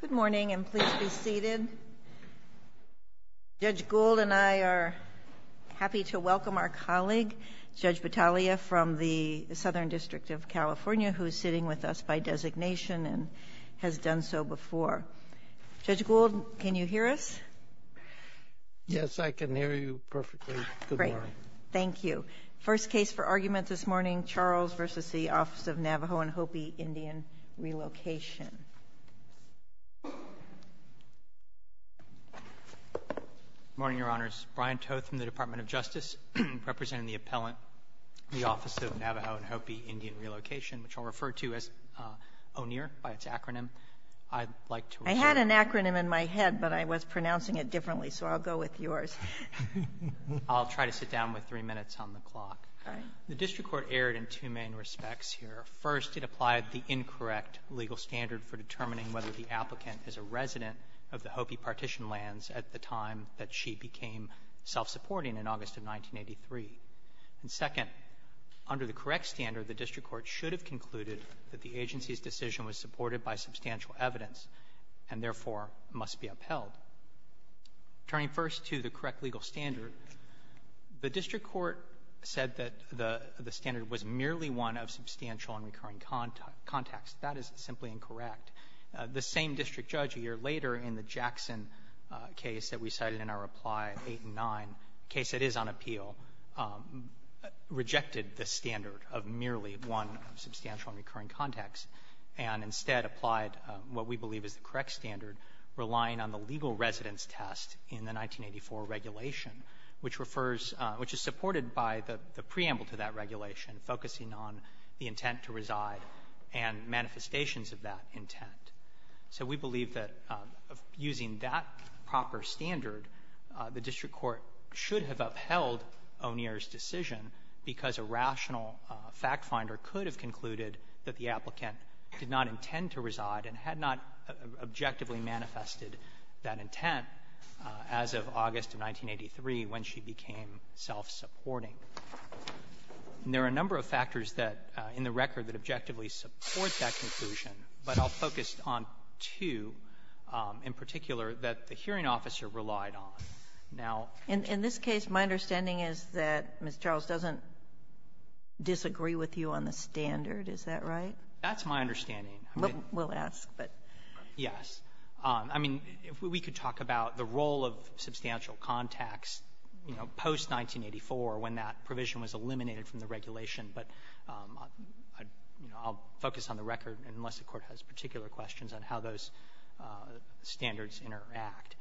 Good morning and please be seated. Judge Gould and I are happy to welcome our colleague Judge Battaglia from the Southern District of California who's sitting with us by designation and has done so before. Judge Gould, can you hear us? Yes, I can hear you perfectly. Thank you. First case for argument this morning, relocation. Good morning, Your Honors. Brian Toth from the Department of Justice, representing the appellant, the Office of Navajo & Hopi Indian Relocation, which I'll refer to as ONER by its acronym. I'd like to reserve the floor. I had an acronym in my head, but I was pronouncing it differently, so I'll go with yours. I'll try to sit down with three minutes on the clock. All right. The district court erred in two main respects here. First, it applied the incorrect legal standard for determining whether the applicant is a resident of the Hopi Partition lands at the time that she became self-supporting in August of 1983. And second, under the correct standard, the district court should have concluded that the agency's decision was supported by substantial evidence and, therefore, must be upheld. Turning first to the correct legal standard, the district court said that the standard was merely one of substantial and recurring context. That is simply incorrect. The same district judge a year later in the Jackson case that we cited in our reply 8 and 9, a case that is on appeal, rejected the standard of merely one substantial and recurring context, and instead applied what we believe is the correct standard, relying on the legal residence test in the 1984 regulation, which refers to the preamble to that regulation, focusing on the intent to reside and manifestations of that intent. So we believe that using that proper standard, the district court should have upheld O'Neill's decision because a rational fact finder could have concluded that the applicant did not intend to reside and had not objectively manifested that intent as of August of 1983 when she became self-supporting. And there are a number of factors that, in the record, that objectively support that conclusion, but I'll focus on two in particular that the hearing officer relied on. Now ---- Ginsburg-Morrison, and in this case, my understanding is that Ms. Charles doesn't disagree with you on the standard. Is that right? That's my understanding. We'll ask, but ---- Yes. I mean, if we could talk about the role of substantial contacts, you know, post-1984 when that provision was eliminated from the regulation, but, you know, I'll focus on the record, unless the Court has particular questions on how those standards interact.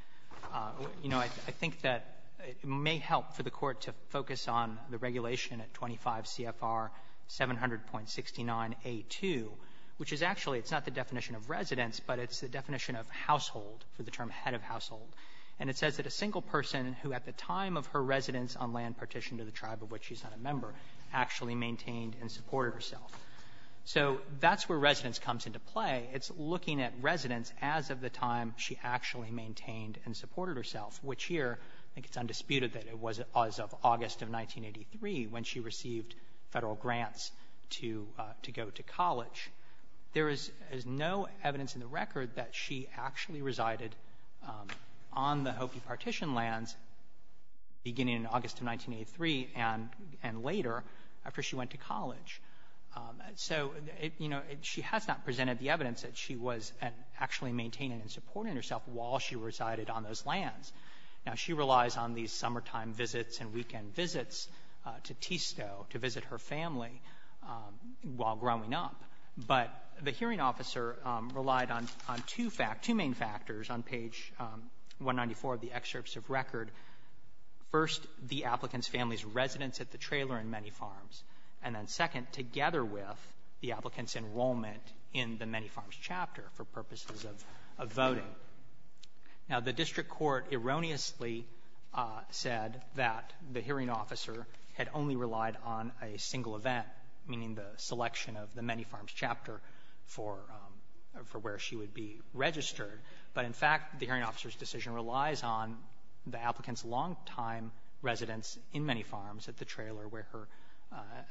You know, I think that it may help for the Court to focus on the regulation at 25 CFR 700.69a2, which is actually, it's not the definition of residence, but it's the definition of household, for the term head of household. And it says that a single person who at the time of her residence on land partitioned to the tribe of which she's not a member actually maintained and supported herself. So that's where residence comes into play. It's looking at residence as of the time she actually maintained and supported herself, which here, I think it's undisputed that it was as of August of 1983 when she received Federal grants to go to college. There is no evidence in the record that she actually resided on the Hopi partition lands beginning in August of 1983 and later after she went to college. So, you know, she has not presented the evidence that she was actually maintaining and supporting herself while she resided on those lands. Now, she relies on these summertime visits and weekend visits to TSA, to Visto, to visit her family while growing up. But the hearing officer relied on two main factors on page 194 of the excerpts of record. First, the applicant's family's residence at the trailer in Many Farms, and then second, together with the applicant's enrollment in the Many Farms chapter for purposes of voting. Now, the district court erroneously said that the hearing officer had only relied on a single event, meaning the selection of the Many Farms chapter for where she would be registered. But in fact, the hearing officer's decision relies on the applicant's longtime residence in Many Farms at the trailer where her,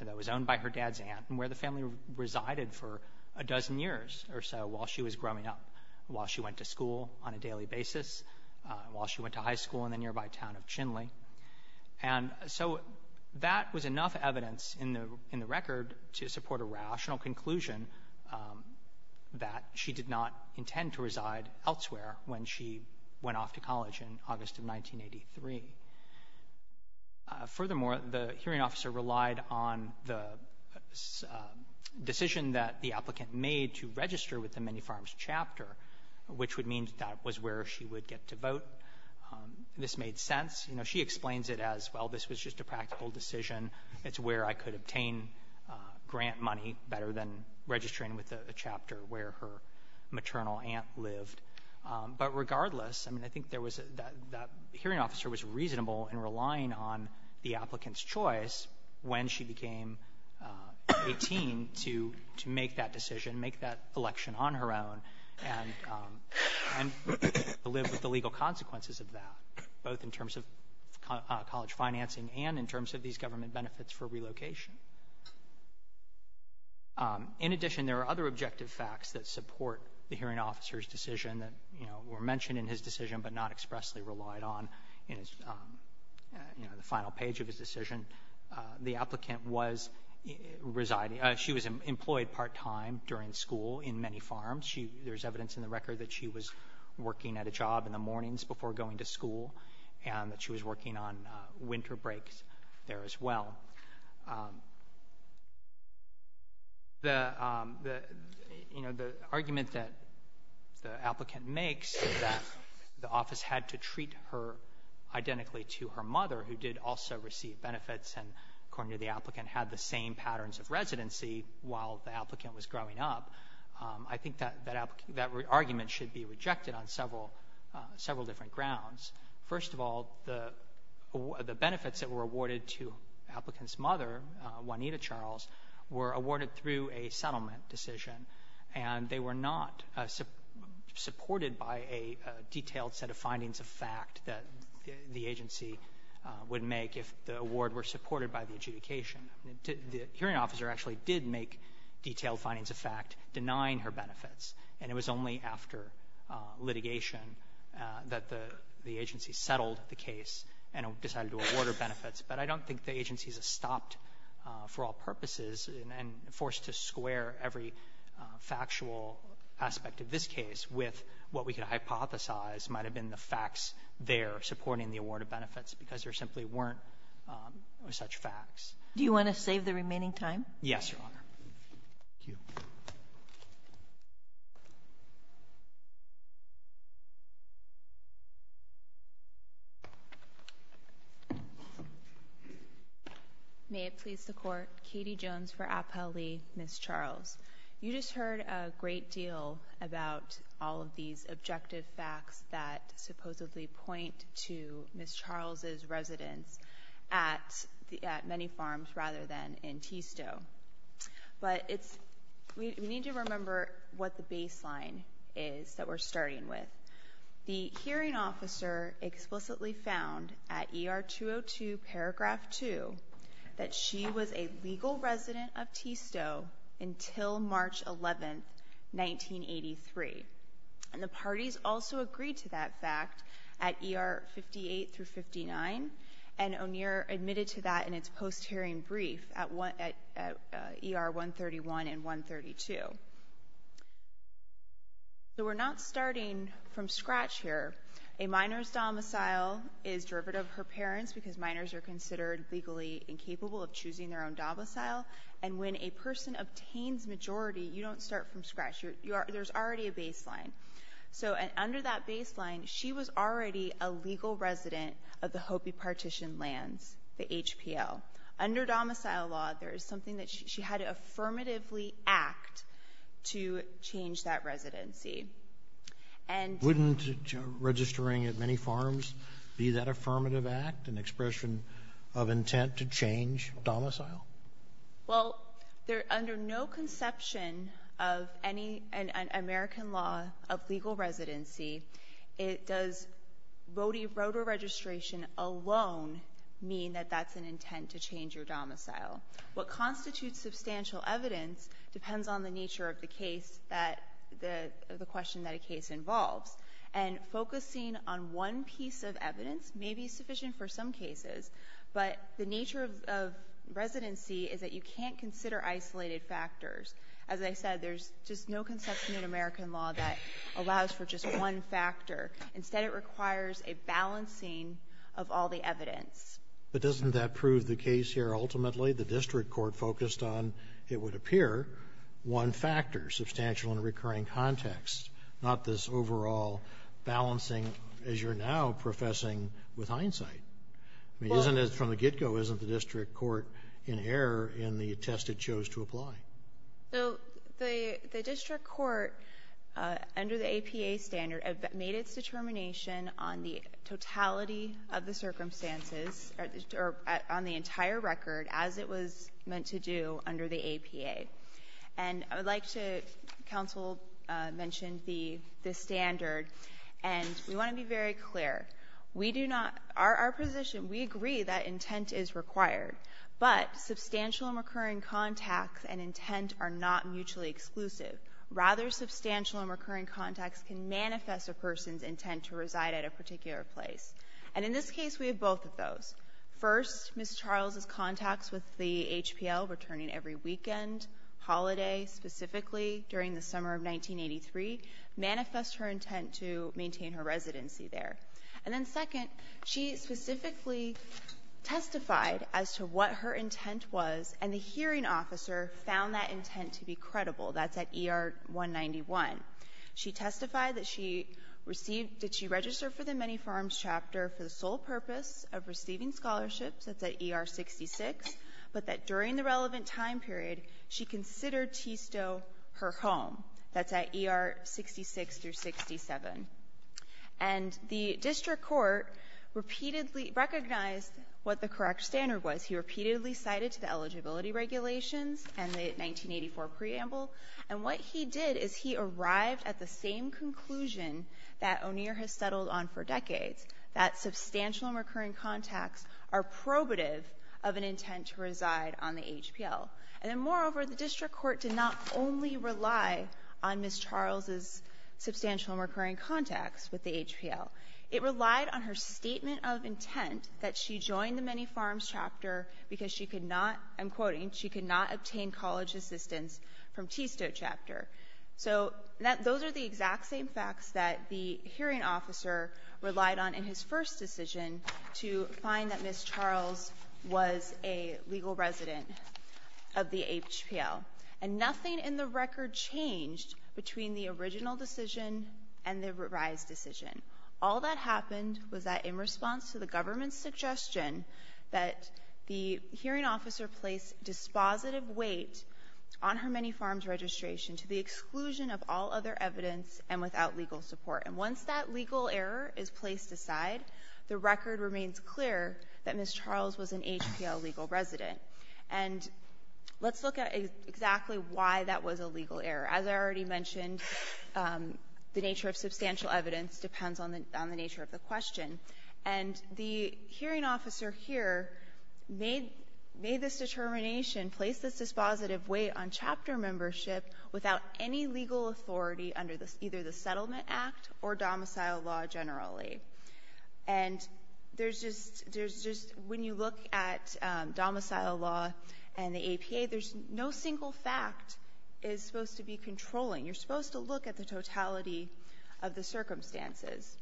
that was owned by her dad's aunt and where the family resided for a dozen years or so while she was growing up, while she went to school on a daily basis, while she went to high school in the nearby town of Chinle. And so that was enough evidence in the record to support a rational conclusion that she did not intend to reside elsewhere when she went off to college in August of 1983. Furthermore, the hearing officer relied on the decision that the applicant made to register with the Many Farms chapter, which would mean that was where she would get to vote. This made sense. You know, she explains it as, well, this was just a practical decision. It's where I could obtain grant money better than registering with a chapter where her maternal aunt lived. But regardless, I mean, I think there was a — that hearing officer was reasonable in relying on the applicant's choice when she became 18 to make that decision, make that election on her own, and to live with the legal consequences of that, both in terms of college financing and in terms of these government benefits for relocation. In addition, there are other objective facts that support the hearing officer's decision that, you know, were mentioned in his decision but not expressly relied on in his, you know, the final page of his decision. The applicant was residing — she was employed part-time during school in Many Farms. She — there's evidence in the record that she was working at a job in the mornings before going to school, and that she was working on winter breaks there as well. The — you know, the argument that the applicant makes is that the office had to treat her identically to her mother, who did also receive benefits, and, according to the applicant, had the same patterns of residency while the applicant was growing up, I think that — that argument should be rejected on several — several different grounds. First of all, the benefits that were awarded to the applicant's mother, Juanita Charles, were awarded through a settlement decision, and they were not supported by a detailed set of findings of fact that the award were supported by the adjudication. The hearing officer actually did make detailed findings of fact denying her benefits, and it was only after litigation that the agency settled the case and decided to award her benefits. But I don't think the agency's stopped for all purposes and forced to square every factual aspect of this case with what we could hypothesize might have been the facts there supporting the award of benefits because there simply weren't such facts. Do you want to save the remaining time? Yes, Your Honor. Thank you. May it please the Court. Katie Jones for Appellee, Ms. Charles. You just heard a great deal about all of these residents at — at many farms rather than in Tistot. But it's — we need to remember what the baseline is that we're starting with. The hearing officer explicitly found at ER 202, paragraph 2, that she was a legal resident of Tistot until March 11, 1983. And the parties also agreed to that fact at ER 58 through 59, and O'Neill admitted to that in its post-hearing brief at — at ER 131 and 132. So we're not starting from scratch here. A minor's domicile is derivative of her parent's because minors are considered legally incapable of choosing their own domicile. And when a person obtains majority, you don't start from scratch. You're — there's already a baseline. So under that baseline, she was already a legal resident of the Hopi partition lands, the HPL. Under domicile law, there is something that she had to affirmatively act to change that residency. And — Wouldn't registering at many farms be that affirmative act, an expression of intent to change domicile? Well, there — under no conception of any — an American law of legal residency, it does — voter registration alone mean that that's an intent to change your domicile. What constitutes substantial evidence depends on the nature of the case that — the question that a case involves. And focusing on one piece of evidence may be sufficient for some cases, but the nature of — of residency is that you can't consider isolated factors. As I said, there's just no conception in American law that allows for just one factor. Instead, it requires a balancing of all the evidence. But doesn't that prove the case here ultimately? The district court focused on, it would I mean, isn't it — from the get-go, isn't the district court in error in the test it chose to apply? So the — the district court, under the APA standard, made its determination on the totality of the circumstances, or on the entire record, as it was meant to do under the APA. And I would like to — counsel mentioned the — the standard, and we want to be very clear. We do not — our position, we agree that intent is required. But substantial and recurring contacts and intent are not mutually exclusive. Rather, substantial and recurring contacts can manifest a person's intent to reside at a particular place. And in this case, we have both of those. First, Ms. Charles' contacts with the HPL returning every weekend, holiday specifically, during the summer of 1983, manifest her intent to maintain her residency there. And then second, she specifically testified as to what her intent was, and the hearing officer found that intent to be credible. That's at ER-191. She testified that she received — that she registered for the Many Farms chapter for the sole purpose of receiving scholarships. That's at ER-66. But that during the relevant time period, she considered Tistot her home. That's at ER-66 through 67. And the district court repeatedly recognized what the correct standard was. He repeatedly cited the eligibility regulations and the 1984 preamble. And what he did is he arrived at the same conclusion that O'Neill has settled on for decades, that substantial and recurring contacts are probative of an intent to reside on the HPL. And then, moreover, the district court did not only rely on Ms. Charles' substantial and recurring contacts with the HPL. It relied on her statement of intent that she joined the Many Farms chapter because she could not, I'm quoting, she could not obtain college assistance from Tistot chapter. So that — those are the exact same facts that the hearing officer relied on in his first decision to find that Ms. Charles was a legal resident of the HPL. And nothing in the record changed between the original decision and the revised decision. All that happened was that in response to the government's suggestion that the hearing officer placed dispositive weight on her Many Farms registration to the exclusion of all other evidence and without legal support. And once that legal error is placed aside, the record remains clear that Ms. Charles was an HPL legal resident. And let's look at exactly why that was a legal error. As I already mentioned, the nature of substantial evidence depends on the nature of the question. And the hearing officer here made — made this determination, placed this dispositive weight on chapter membership without any legal authority under either the Settlement Act or domicile law generally. And there's just — there's just — when you look at domicile law and the APA, there's no single fact is supposed to be controlling. You're supposed to look at the totality of the circumstances.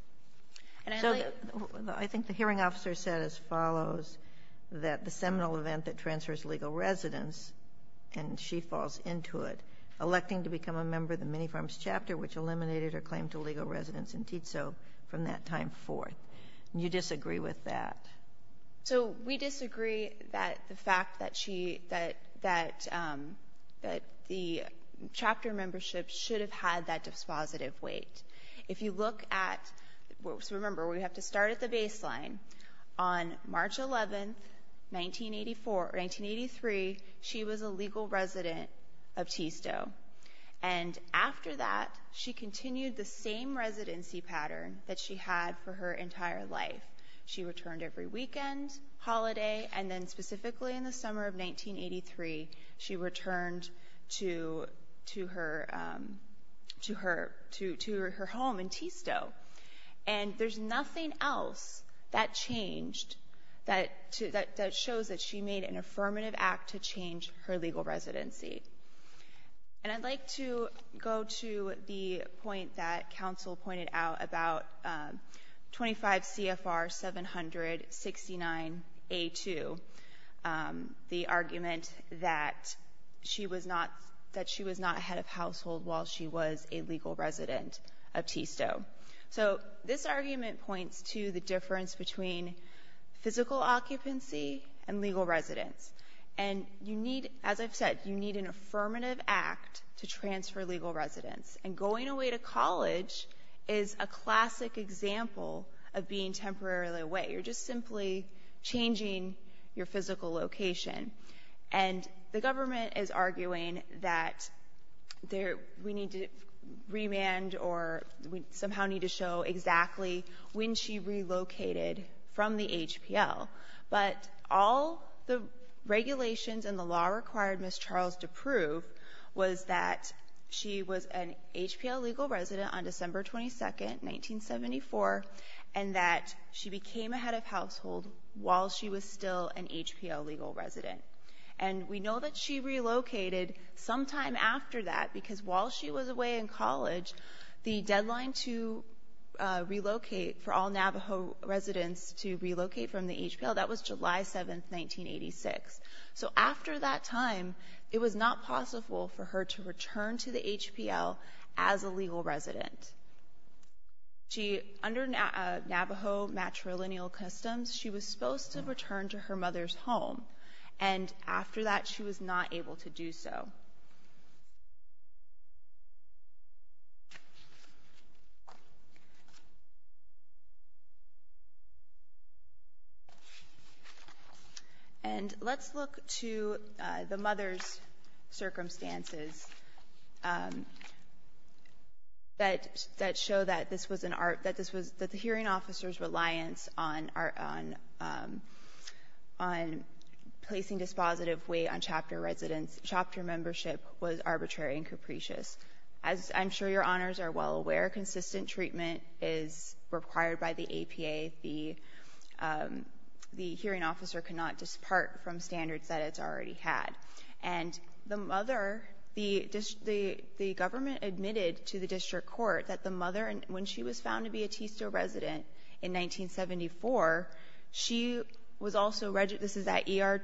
And I like — Ginsburg. So I think the hearing officer said as follows that the seminal event that transfers legal residence, and she falls into it, electing to become a member of the Many Farms chapter, which eliminated her claim to legal residence in TITSO from that time forth. Do you disagree with that? So we disagree that the fact that she — that — that the chapter membership should have had that dispositive weight. If you look at — so remember, we have to start at the baseline. On March 11th, 1984 — or 1983, she was a legal resident of TITSO. And after that, she continued the same residency pattern that she had for her entire life. She returned every weekend, holiday, and then specifically in the summer of 1983, she returned to — to her — to her — to her home in TITSO. And there's nothing else that changed that — that shows that she made an affirmative act to change her legal residency. And I'd like to go to the point that counsel pointed out about 25 CFR 769a2, the argument that she was not — that she was not a head of household while she was a legal resident of TITSO. So this argument points to the difference between physical occupancy and legal residence. And you need — as I've said, you need an affirmative act to transfer legal residence. And going away to college is a classic example of being temporarily away. You're just simply changing your physical location. And the government is arguing that there — we need to remand or we somehow need to show exactly when she relocated from the HPL. But all the regulations and the law required Ms. Charles to prove was that she was an HPL legal resident on December 22nd, 1974, and that she became a head of household while she was still an HPL legal resident. And we know that she relocated sometime after that because while she was away in college, the deadline to relocate — for all Navajo residents to relocate from the HPL, that was July 7th, 1986. So after that time, it was not possible for her to return to the HPL as a legal resident. She — under Navajo matrilineal customs, she was supposed to return to her mother's home. And after that, she was not able to do so. And let's look to the mother's circumstances that — that show that this was an art — placing dispositive weight on chapter residence — chapter membership was arbitrary and capricious. As I'm sure Your Honors are well aware, consistent treatment is required by the APA. The hearing officer cannot dispart from standards that it's already had. And the mother — the government admitted to the district court that the mother, when she was found to be a TISTO resident in 1974, she was also — this is at ER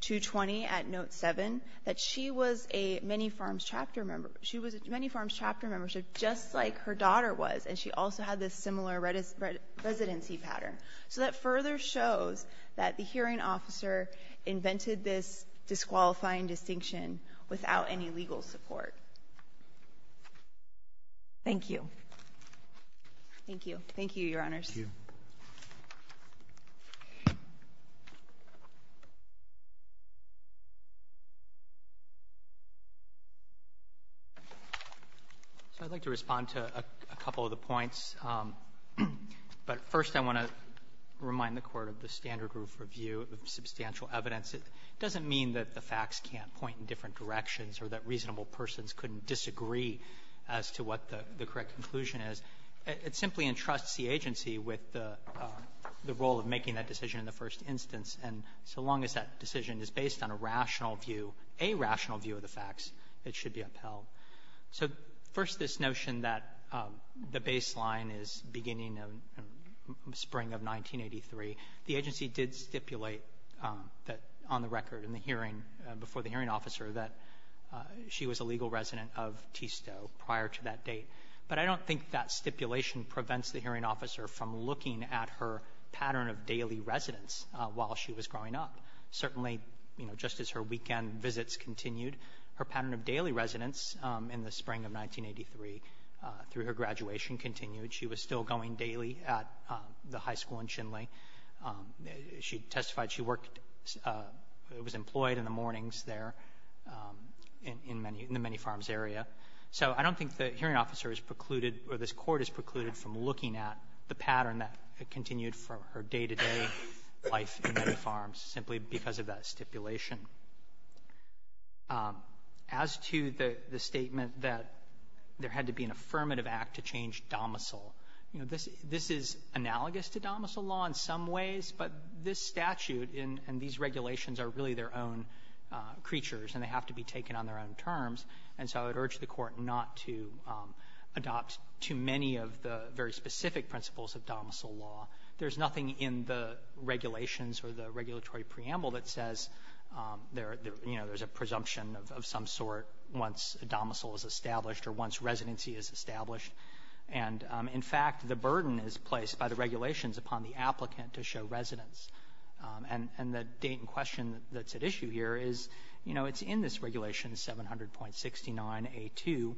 220 at Note 7 — that she was a Many Farms Chapter member. She was a Many Farms Chapter member, so just like her daughter was, and she also had this similar residency pattern. So that further shows that the hearing officer invented this disqualifying distinction without any legal support. Thank you. Thank you. Thank you, Your Honors. Thank you. So I'd like to respond to a couple of the points. But first, I want to remind the Court of the standard group review of substantial evidence. It doesn't mean that the the correct conclusion is. It simply entrusts the agency with the role of making that decision in the first instance. And so long as that decision is based on a rational view, a rational view of the facts, it should be upheld. So first, this notion that the baseline is beginning in the spring of 1983, the agency did stipulate that on the prior to that date. But I don't think that stipulation prevents the hearing officer from looking at her pattern of daily residence while she was growing up. Certainly, you know, just as her weekend visits continued, her pattern of daily residence in the spring of 1983 through her graduation continued. She was still going daily at the high school in Chinle. She testified she worked It was employed in the mornings there in the many farms area. So I don't think the hearing officer is precluded or this Court is precluded from looking at the pattern that continued from her day-to-day life in many farms simply because of that stipulation. As to the statement that there had to be an affirmative act to change domicile, you know, this is analogous to domicile law in some ways, but this statute and these regulations are really their own creatures and they have to be taken on their own terms. And so I would urge the Court not to adopt too many of the very specific principles of domicile law. There's nothing in the regulations or the regulatory preamble that says, you know, there's a presumption of some sort once a domicile is established or once residency is established. And, in fact, the burden is placed by the regulations upon the applicant to show residence. And the date and question that's at issue here is, you know, it's in this Regulation 700.69a2,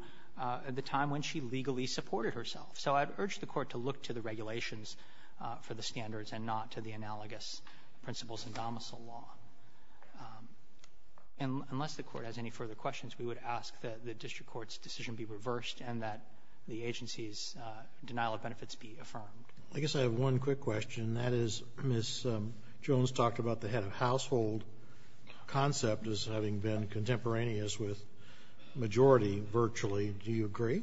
the time when she legally supported herself. So I'd urge the Court to look to the regulations for the standards and not to the analogous principles in domicile law. And unless the Court has any further questions, we would ask that the district court's decision be reversed and that the agency's denial of benefits be affirmed. Roberts. I guess I have one quick question, and that is, Ms. Jones talked about the head-of-household concept as having been contemporaneous with majority virtually. Do you agree?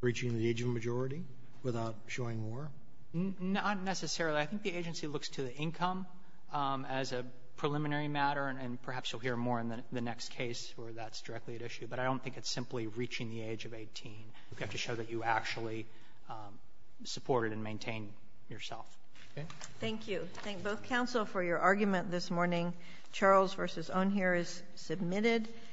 Reaching the age of majority without showing more? Not necessarily. I think the agency looks to the income as a preliminary matter, and perhaps you'll hear more in the next case where that's directly at issue. But I don't think it's simply reaching the age of 18. You have to show that you actually supported and maintained yourself. Okay? Thank you. I thank both counsel for your argument this morning.